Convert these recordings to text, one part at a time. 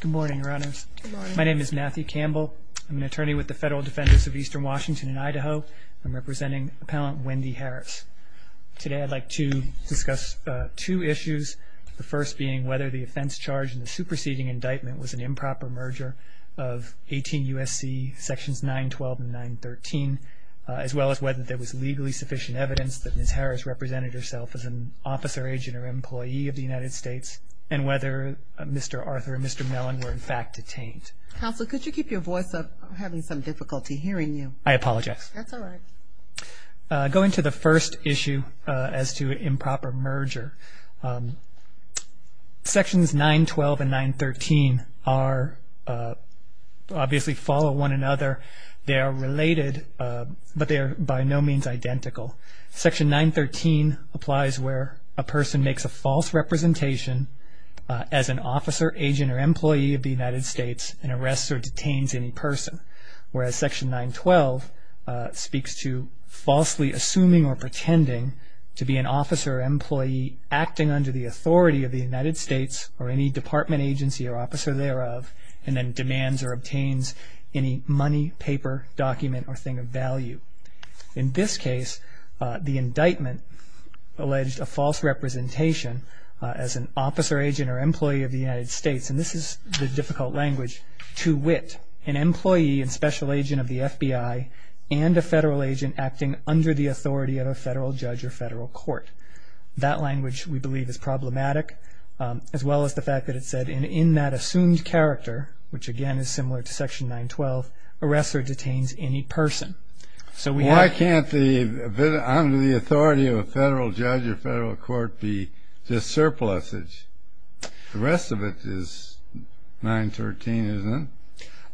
Good morning, Your Honors. My name is Matthew Campbell. I'm an attorney with the Federal Defenders of Eastern Washington and Idaho. I'm representing Appellant Wendi Harris. Today I'd like to discuss two issues, the first being whether the offense charged in the superseding indictment was an improper merger of 18 U.S.C. sections 912 and 913, as well as whether there was legally sufficient evidence that Ms. Harris represented herself as an officer, agent, or employee of the United States, and whether Mr. Arthur and Mr. Mellon were in fact detained. Counsel, could you keep your voice up? I'm having some difficulty hearing you. I apologize. That's all right. Going to the first issue as to improper merger, sections 912 and 913 obviously follow one another. They are related, but they are by no means identical. Section 913 applies where a person makes a false representation as an officer, agent, or employee of the United States and arrests or detains any person, whereas section 912 speaks to falsely assuming or pretending to be an officer or employee acting under the authority of the United States or any department agency or officer thereof and then demands or obtains any money, paper, document, or thing of value. In this case, the indictment alleged a false representation as an officer, agent, or employee of the United States, and this is the difficult language, to wit, an employee and special agent of the FBI and a federal agent acting under the authority of a federal judge or federal court. That language, we believe, is problematic, as well as the fact that it said, and in that assumed character, which again is similar to section 912, arrests or detains any person. Why can't the authority of a federal judge or federal court be just surpluses? The rest of it is 913,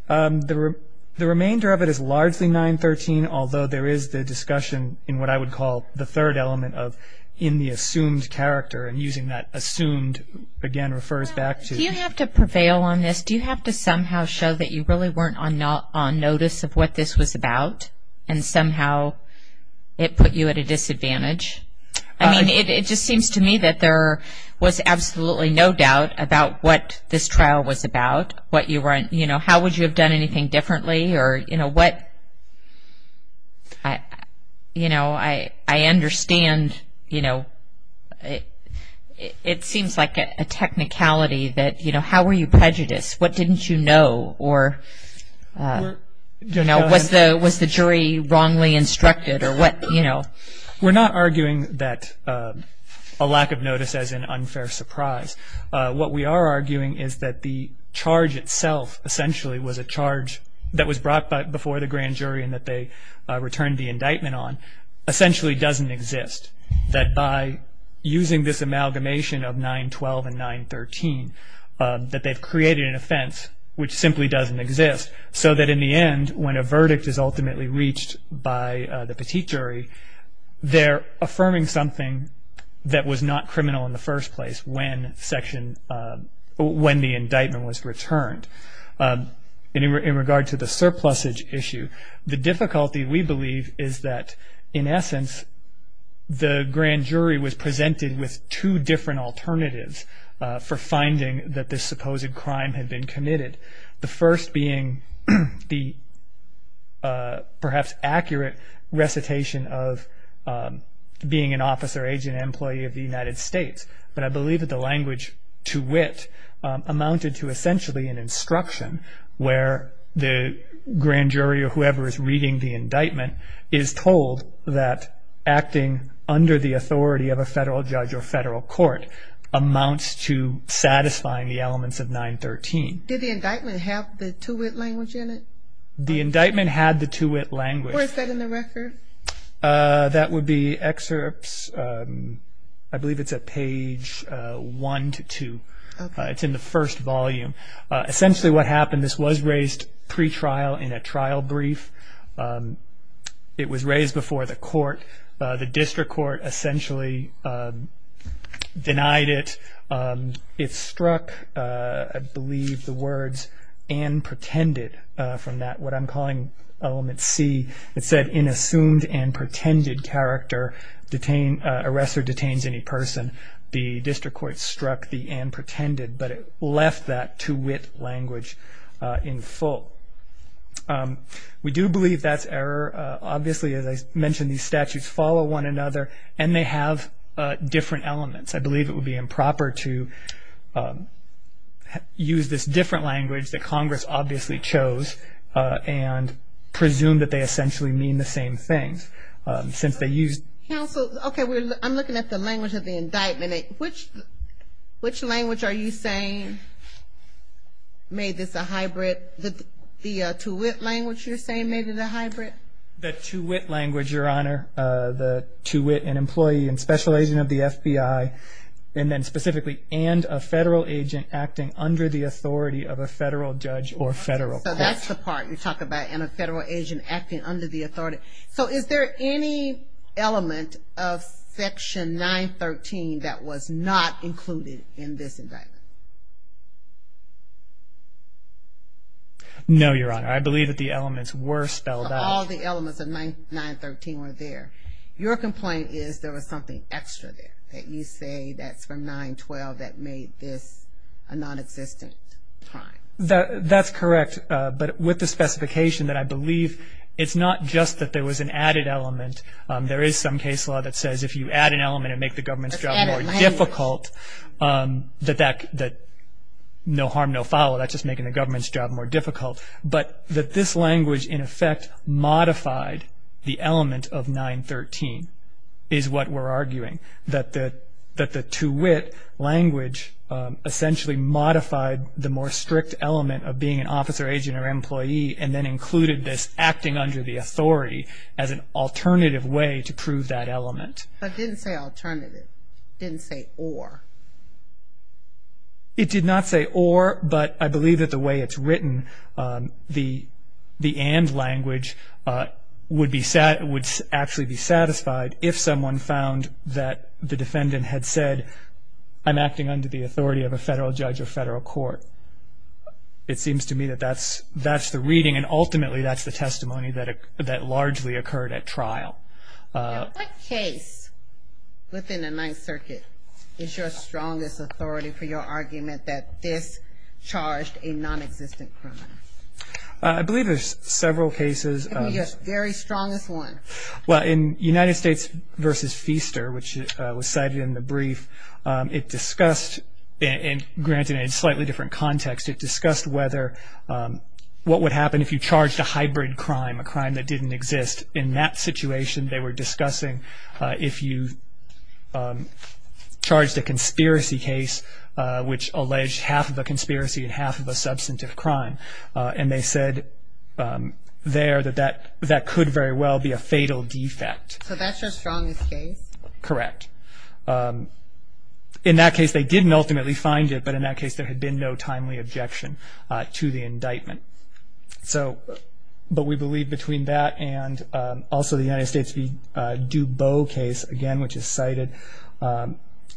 isn't it? The remainder of it is largely 913, although there is the discussion in what I would call the third element of in the assumed character, and using that assumed again refers back to... Do you have to prevail on this? Do you have to somehow show that you really weren't on notice of what this was about and somehow it put you at a disadvantage? I mean, it just seems to me that there was absolutely no doubt about what this trial was about, how would you have done anything differently? I understand. It seems like a technicality that how were you prejudiced? What didn't you know? Was the jury wrongly instructed? We're not arguing that a lack of notice is an unfair surprise. What we are arguing is that the charge itself essentially was a charge that was brought before the grand jury and that they returned the indictment on essentially doesn't exist, that by using this amalgamation of 912 and 913 that they've created an offense which simply doesn't exist, so that in the end when a verdict is ultimately reached by the petite jury, they're affirming something that was not criminal in the first place when the indictment was returned. In regard to the surplusage issue, the difficulty we believe is that in essence the grand jury was presented with two different alternatives for finding that this supposed crime had been committed. The first being the perhaps accurate recitation of being an officer agent employee of the United States, but I believe that the language to wit amounted to essentially an instruction where the grand jury or whoever is reading the indictment is told that acting under the authority of a federal judge or federal court amounts to satisfying the elements of 913. Did the indictment have the to wit language in it? The indictment had the to wit language. Where is that in the record? That would be excerpts, I believe it's at page one to two. It's in the first volume. Essentially what happened, this was raised pre-trial in a trial brief. It was raised before the court. The district court essentially denied it. It struck, I believe, the words and pretended from that, what I'm calling element C. It said, in assumed and pretended character, arrest or detains any person. The district court struck the and pretended, but it left that to wit language in full. We do believe that's error. Obviously, as I mentioned, these statutes follow one another and they have different elements. I believe it would be improper to use this different language that Congress obviously chose and presume that they essentially mean the same thing. Counsel, okay, I'm looking at the language of the indictment. Which language are you saying made this a hybrid? The to wit language you're saying made it a hybrid? The to wit language, Your Honor. To wit, an employee and special agent of the FBI, and then specifically, and a federal agent acting under the authority of a federal judge or federal court. That's the part you're talking about, and a federal agent acting under the authority. Is there any element of Section 913 that was not included in this indictment? No, Your Honor. I believe that the elements were spelled out. All the elements of 913 were there. Your complaint is there was something extra there that you say that's from 912 that made this a nonexistent crime. That's correct, but with the specification that I believe it's not just that there was an added element. There is some case law that says if you add an element and make the government's job more difficult, that no harm, no foul, that's just making the government's job more difficult. But that this language, in effect, modified the element of 913 is what we're arguing. That the to wit language essentially modified the more strict element of being an officer, agent, or employee and then included this acting under the authority as an alternative way to prove that element. But it didn't say alternative. It didn't say or. It did not say or, but I believe that the way it's written, the and language would actually be satisfied if someone found that the defendant had said, I'm acting under the authority of a federal judge or federal court. It seems to me that that's the reading and ultimately that's the testimony that largely occurred at trial. What case within the Ninth Circuit is your strongest authority for your argument that this charged a nonexistent criminal? I believe there's several cases. Give me your very strongest one. Well, in United States v. Feaster, which was cited in the brief, it discussed and granted in a slightly different context, it discussed whether what would happen if you charged a hybrid crime, a crime that didn't exist. In that situation they were discussing if you charged a conspiracy case which alleged half of a conspiracy and half of a substantive crime. And they said there that that could very well be a fatal defect. So that's your strongest case? Correct. In that case they didn't ultimately find it, but in that case there had been no timely objection to the indictment. But we believe between that and also the United States v. Dubot case, again, which is cited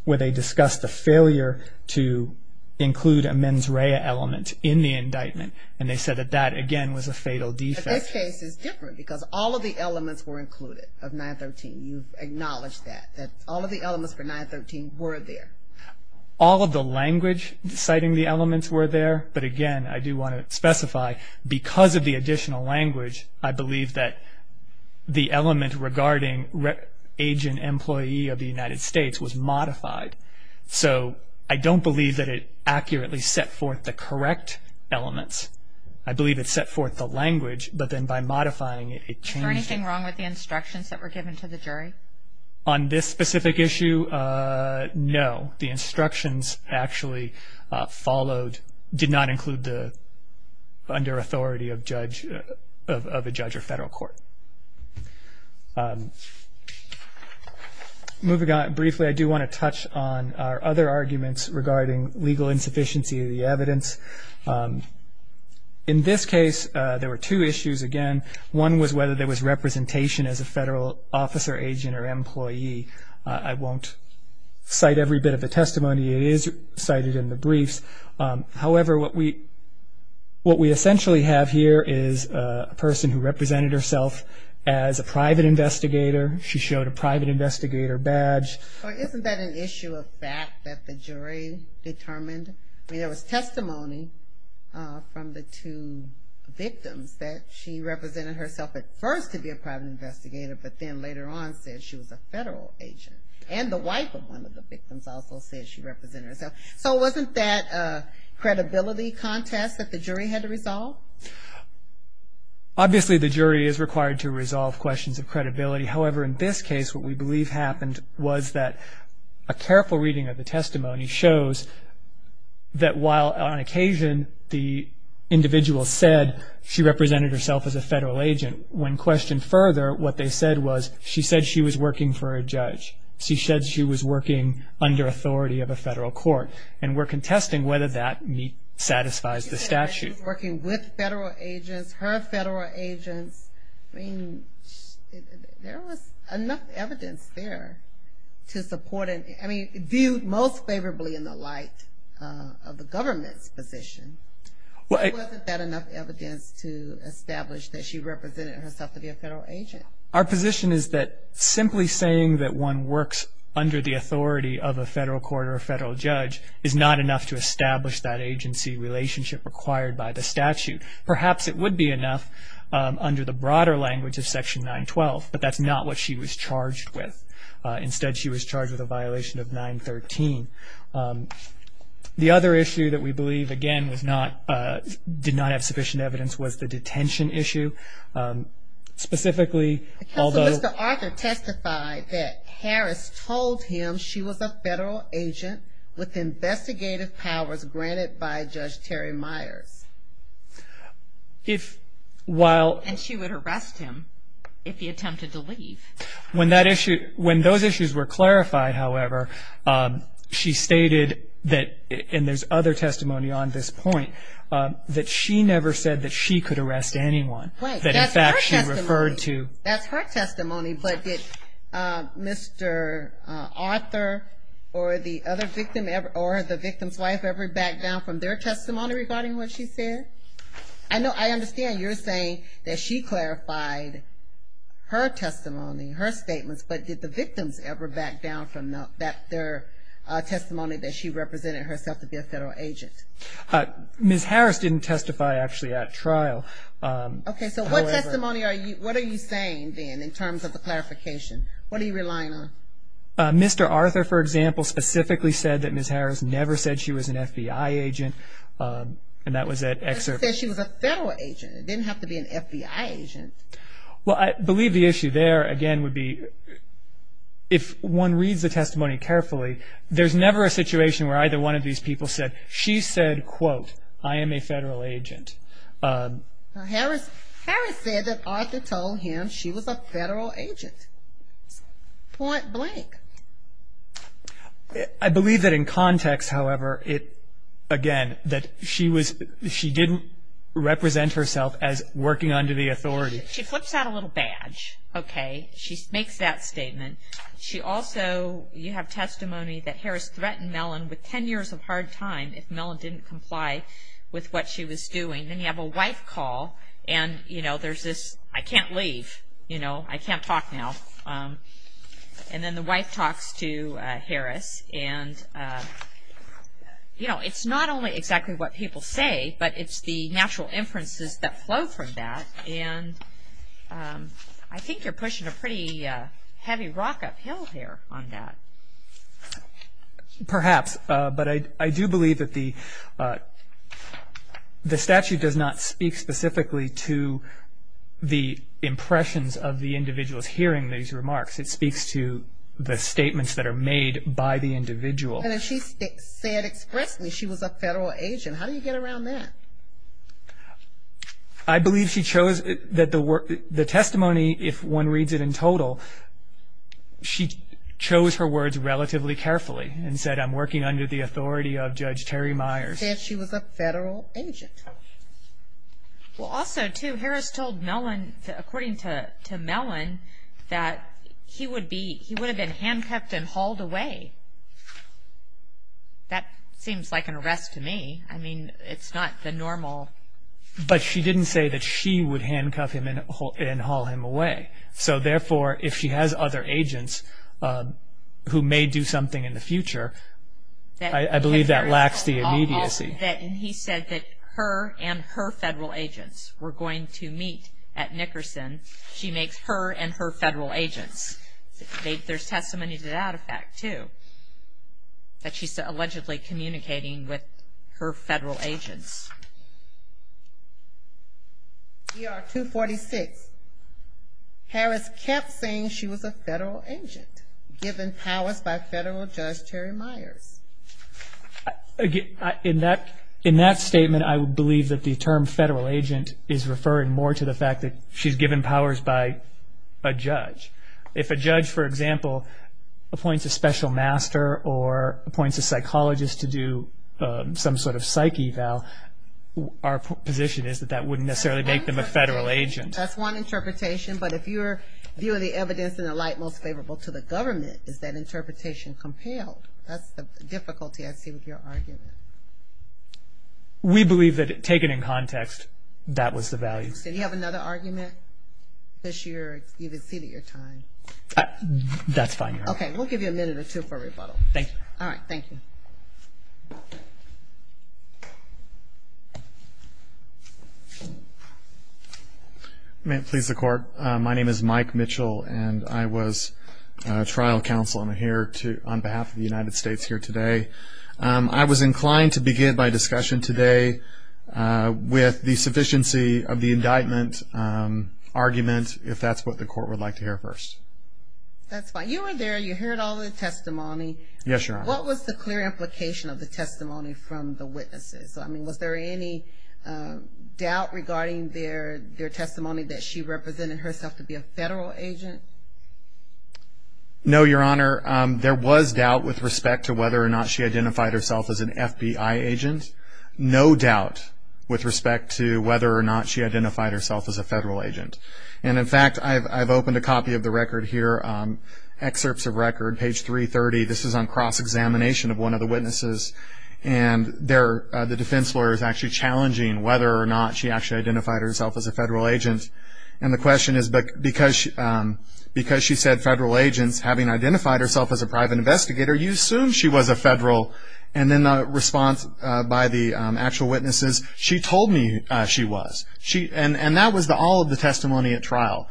where they discussed the failure to include a mens rea element in the indictment. And they said that that, again, was a fatal defect. But this case is different because all of the elements were included of 913. You've acknowledged that, that all of the elements for 913 were there. All of the language citing the elements were there, but, again, I do want to specify because of the additional language, I believe that the element regarding agent employee of the United States was modified. So I don't believe that it accurately set forth the correct elements. I believe it set forth the language, but then by modifying it, it changed. Is there anything wrong with the instructions that were given to the jury? On this specific issue, no. The instructions actually followed, did not include the under authority of a judge or federal court. Moving on briefly, I do want to touch on our other arguments regarding legal insufficiency of the evidence. In this case, there were two issues, again. One was whether there was representation as a federal officer, agent, or employee. I won't cite every bit of the testimony. It is cited in the briefs. However, what we essentially have here is a person who represented herself as a private investigator. She showed a private investigator badge. Well, isn't that an issue of fact that the jury determined? I mean, there was testimony from the two victims that she represented herself at first to be a private investigator, but then later on said she was a federal agent. And the wife of one of the victims also said she represented herself. So wasn't that a credibility contest that the jury had to resolve? Obviously, the jury is required to resolve questions of credibility. However, in this case, what we believe happened was that a careful reading of the testimony shows that while on occasion the individual said she represented herself as a federal agent, when questioned further, what they said was she said she was working for a judge. She said she was working under authority of a federal court. And we're contesting whether that satisfies the statute. She said she was working with federal agents, her federal agents. I mean, there was enough evidence there to support it. I mean, viewed most favorably in the light of the government's position. Wasn't that enough evidence to establish that she represented herself to be a federal agent? Our position is that simply saying that one works under the authority of a federal court or a federal judge is not enough to establish that agency relationship required by the statute. Perhaps it would be enough under the broader language of Section 912, but that's not what she was charged with. Instead, she was charged with a violation of 913. The other issue that we believe, again, did not have sufficient evidence was the detention issue. Specifically, although- Counsel, Mr. Arthur testified that Harris told him she was a federal agent with investigative powers granted by Judge Terry Myers. And she would arrest him if he attempted to leave. When those issues were clarified, however, she stated that, and there's other testimony on this point, that she never said that she could arrest anyone. That, in fact, she referred to- That's her testimony, but did Mr. Arthur or the other victim or the victim's wife ever back down from their testimony regarding what she said? I know, I understand you're saying that she clarified her testimony, her statements, but did the victims ever back down from their testimony that she represented herself to be a federal agent? Ms. Harris didn't testify, actually, at trial. Okay, so what testimony are you- What are you saying, then, in terms of the clarification? What are you relying on? Mr. Arthur, for example, specifically said that Ms. Harris never said she was an FBI agent, and that was at- He said she was a federal agent. It didn't have to be an FBI agent. Well, I believe the issue there, again, would be if one reads the testimony carefully, there's never a situation where either one of these people said, she said, quote, I am a federal agent. Harris said that Arthur told him she was a federal agent, point blank. I believe that in context, however, it, again, that she was- she didn't represent herself as working under the authority. She flips out a little badge, okay? She makes that statement. She also- you have testimony that Harris threatened Mellon with ten years of hard time if Mellon didn't comply with what she was doing. Then you have a wife call, and, you know, there's this, I can't leave, you know, I can't talk now. And then the wife talks to Harris, and, you know, it's not only exactly what people say, but it's the natural inferences that flow from that, and I think you're pushing a pretty heavy rock uphill here on that. Perhaps, but I do believe that the statute does not speak specifically to the impressions of the individuals hearing these remarks. It speaks to the statements that are made by the individual. But if she said expressly she was a federal agent, how do you get around that? I believe she chose that the testimony, if one reads it in total, she chose her words relatively carefully and said, I'm working under the authority of Judge Terry Myers. She said she was a federal agent. Well, also, too, Harris told Mellon, according to Mellon, that he would have been handcuffed and hauled away. That seems like an arrest to me. I mean, it's not the normal. But she didn't say that she would handcuff him and haul him away. So, therefore, if she has other agents who may do something in the future, I believe that lacks the immediacy. And he said that her and her federal agents were going to meet at Nickerson. She makes her and her federal agents. There's testimony to that effect, too, that she's allegedly communicating with her federal agents. ER 246, Harris kept saying she was a federal agent, given powers by Federal Judge Terry Myers. Again, in that statement, I would believe that the term federal agent is referring more to the fact that she's given powers by a judge. If a judge, for example, appoints a special master or appoints a psychologist to do some sort of psych eval, our position is that that wouldn't necessarily make them a federal agent. That's one interpretation. But if your view of the evidence in the light most favorable to the government, is that interpretation compelled? That's the difficulty I see with your argument. We believe that, taken in context, that was the value. Did you have another argument this year? You exceeded your time. That's fine, Your Honor. Okay. We'll give you a minute or two for rebuttal. Thank you. All right. Thank you. May it please the Court? My name is Mike Mitchell, and I was trial counsel. I'm here on behalf of the United States here today. I was inclined to begin my discussion today with the sufficiency of the indictment argument, if that's what the Court would like to hear first. That's fine. You were there. You heard all the testimony. Yes, Your Honor. What was the clear implication of the testimony from the witnesses? I mean, was there any doubt regarding their testimony that she represented herself to be a federal agent? No, Your Honor. There was doubt with respect to whether or not she identified herself as an FBI agent. No doubt with respect to whether or not she identified herself as a federal agent. And, in fact, I've opened a copy of the record here, excerpts of record, page 330. This is on cross-examination of one of the witnesses, and the defense lawyer is actually challenging whether or not she actually identified herself as a federal agent. And the question is, because she said federal agents, having identified herself as a private investigator, you assume she was a federal. And then the response by the actual witnesses, she told me she was. And that was all of the testimony at trial.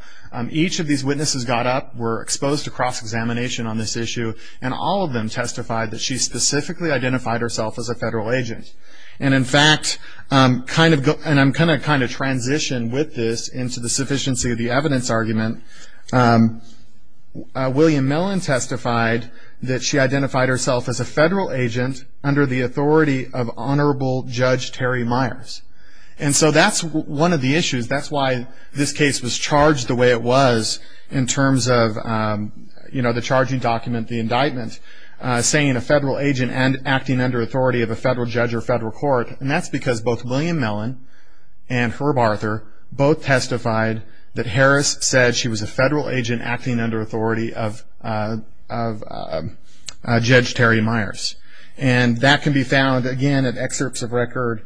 Each of these witnesses got up, were exposed to cross-examination on this issue, and all of them testified that she specifically identified herself as a federal agent. And, in fact, and I'm going to kind of transition with this into the sufficiency of the evidence argument, William Mellon testified that she identified herself as a federal agent under the authority of Honorable Judge Terry Myers. And so that's one of the issues. That's why this case was charged the way it was in terms of, you know, the charging document, the indictment, saying a federal agent and acting under authority of a federal judge or federal court. And that's because both William Mellon and Herb Arthur both testified that Harris said she was a federal agent acting under authority of Judge Terry Myers. And that can be found, again, at Excerpts of Record,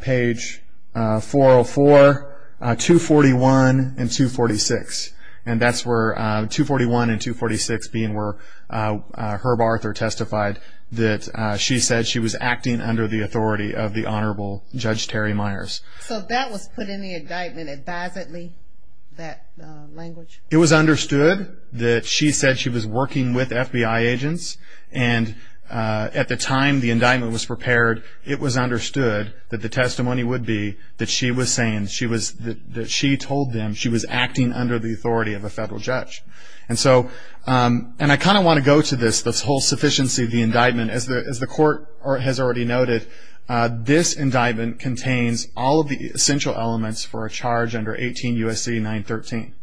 page 404, 241, and 246. And that's where 241 and 246 being where Herb Arthur testified that she said she was acting under the authority of the Honorable Judge Terry Myers. So that was put in the indictment advisedly, that language? It was understood that she said she was working with FBI agents. And at the time the indictment was prepared, it was understood that the testimony would be that she was saying that she told them she was acting under the authority of a federal judge. And so, and I kind of want to go to this, this whole sufficiency of the indictment. As the court has already noted, this indictment contains all of the essential elements for a charge under 18 U.S.C. 913.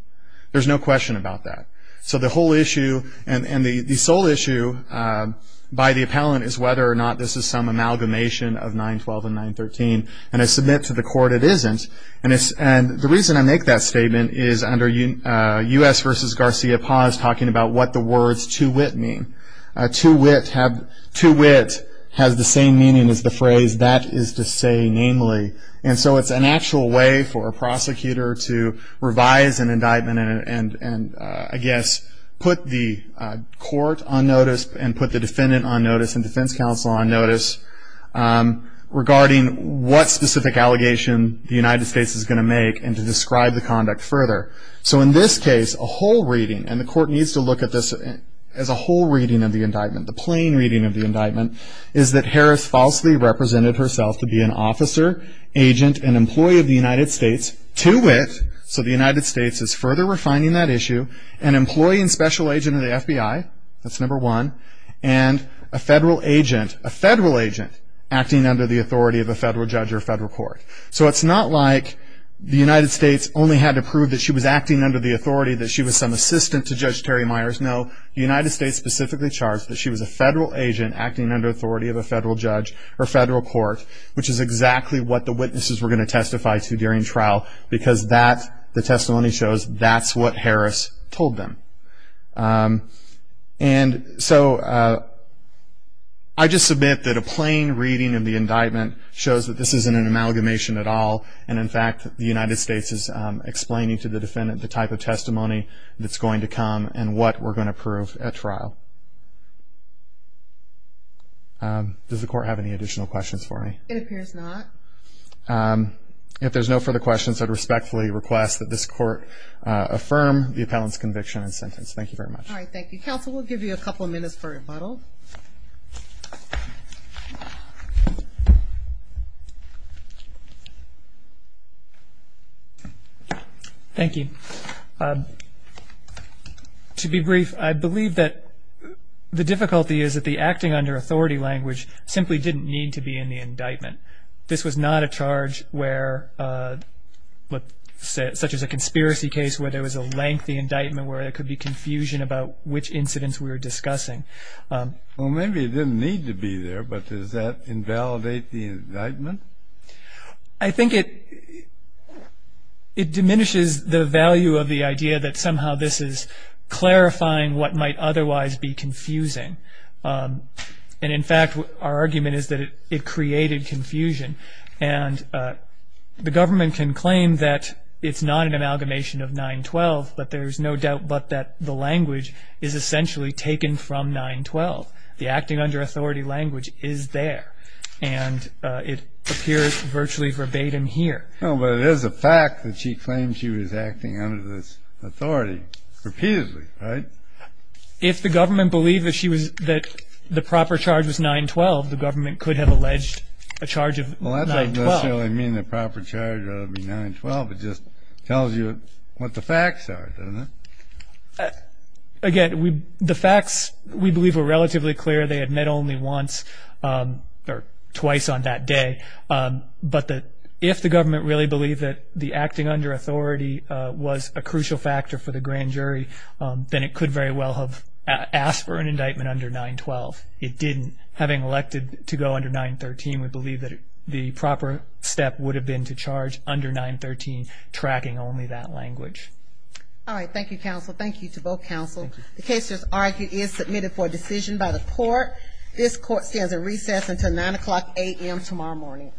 There's no question about that. So the whole issue and the sole issue by the appellant is whether or not this is some amalgamation of 912 and 913. And I submit to the court it isn't. And the reason I make that statement is under U.S. v. Garcia-Paz, talking about what the words to wit mean. To wit has the same meaning as the phrase that is to say namely. And so it's an actual way for a prosecutor to revise an indictment and, I guess, put the court on notice and put the defendant on notice and defense counsel on notice regarding what specific allegation the United States is going to make and to describe the conduct further. So in this case, a whole reading, and the court needs to look at this as a whole reading of the indictment, the plain reading of the indictment, is that Harris falsely represented herself to be an officer, agent, and employee of the United States. To wit, so the United States is further refining that issue, an employee and special agent of the FBI, that's number one, and a federal agent, a federal agent, acting under the authority of a federal judge or federal court. So it's not like the United States only had to prove that she was acting under the authority that she was some assistant to Judge Terry Myers. No, the United States specifically charged that she was a federal agent acting under the authority of a federal judge or federal court, which is exactly what the witnesses were going to testify to during trial because that, the testimony shows, that's what Harris told them. And so I just submit that a plain reading of the indictment shows that this isn't an amalgamation at all, and in fact the United States is explaining to the defendant the type of testimony that's going to come and what we're going to prove at trial. Does the court have any additional questions for me? It appears not. If there's no further questions, I respectfully request that this court affirm the appellant's conviction and sentence. Thank you very much. All right, thank you. Counsel, we'll give you a couple minutes for rebuttal. Thank you. To be brief, I believe that the difficulty is that the acting under authority language simply didn't need to be in the indictment. This was not a charge where, such as a conspiracy case where there was a lengthy indictment where there could be confusion about which incidents we were discussing. Well, maybe it didn't need to be there, but does that invalidate the indictment? I think it diminishes the value of the idea that somehow this is clarifying what might otherwise be confusing, and in fact our argument is that it created confusion, and the government can claim that it's not an amalgamation of 9-12, but there's no doubt but that the language is essentially taken from 9-12. The acting under authority language is there, and it appears virtually verbatim here. Well, but it is a fact that she claims she was acting under this authority repeatedly, right? If the government believed that the proper charge was 9-12, the government could have alleged a charge of 9-12. Well, that doesn't necessarily mean the proper charge ought to be 9-12. It just tells you what the facts are, doesn't it? Again, the facts we believe are relatively clear. They admit only once or twice on that day, but if the government really believed that the acting under authority was a crucial factor for the grand jury, then it could very well have asked for an indictment under 9-12. It didn't. Having elected to go under 9-13, we believe that the proper step would have been to charge under 9-13, tracking only that language. All right. Thank you, counsel. Thank you to both counsel. The case, as argued, is submitted for decision by the court. This court stands at recess until 9 o'clock a.m. tomorrow morning.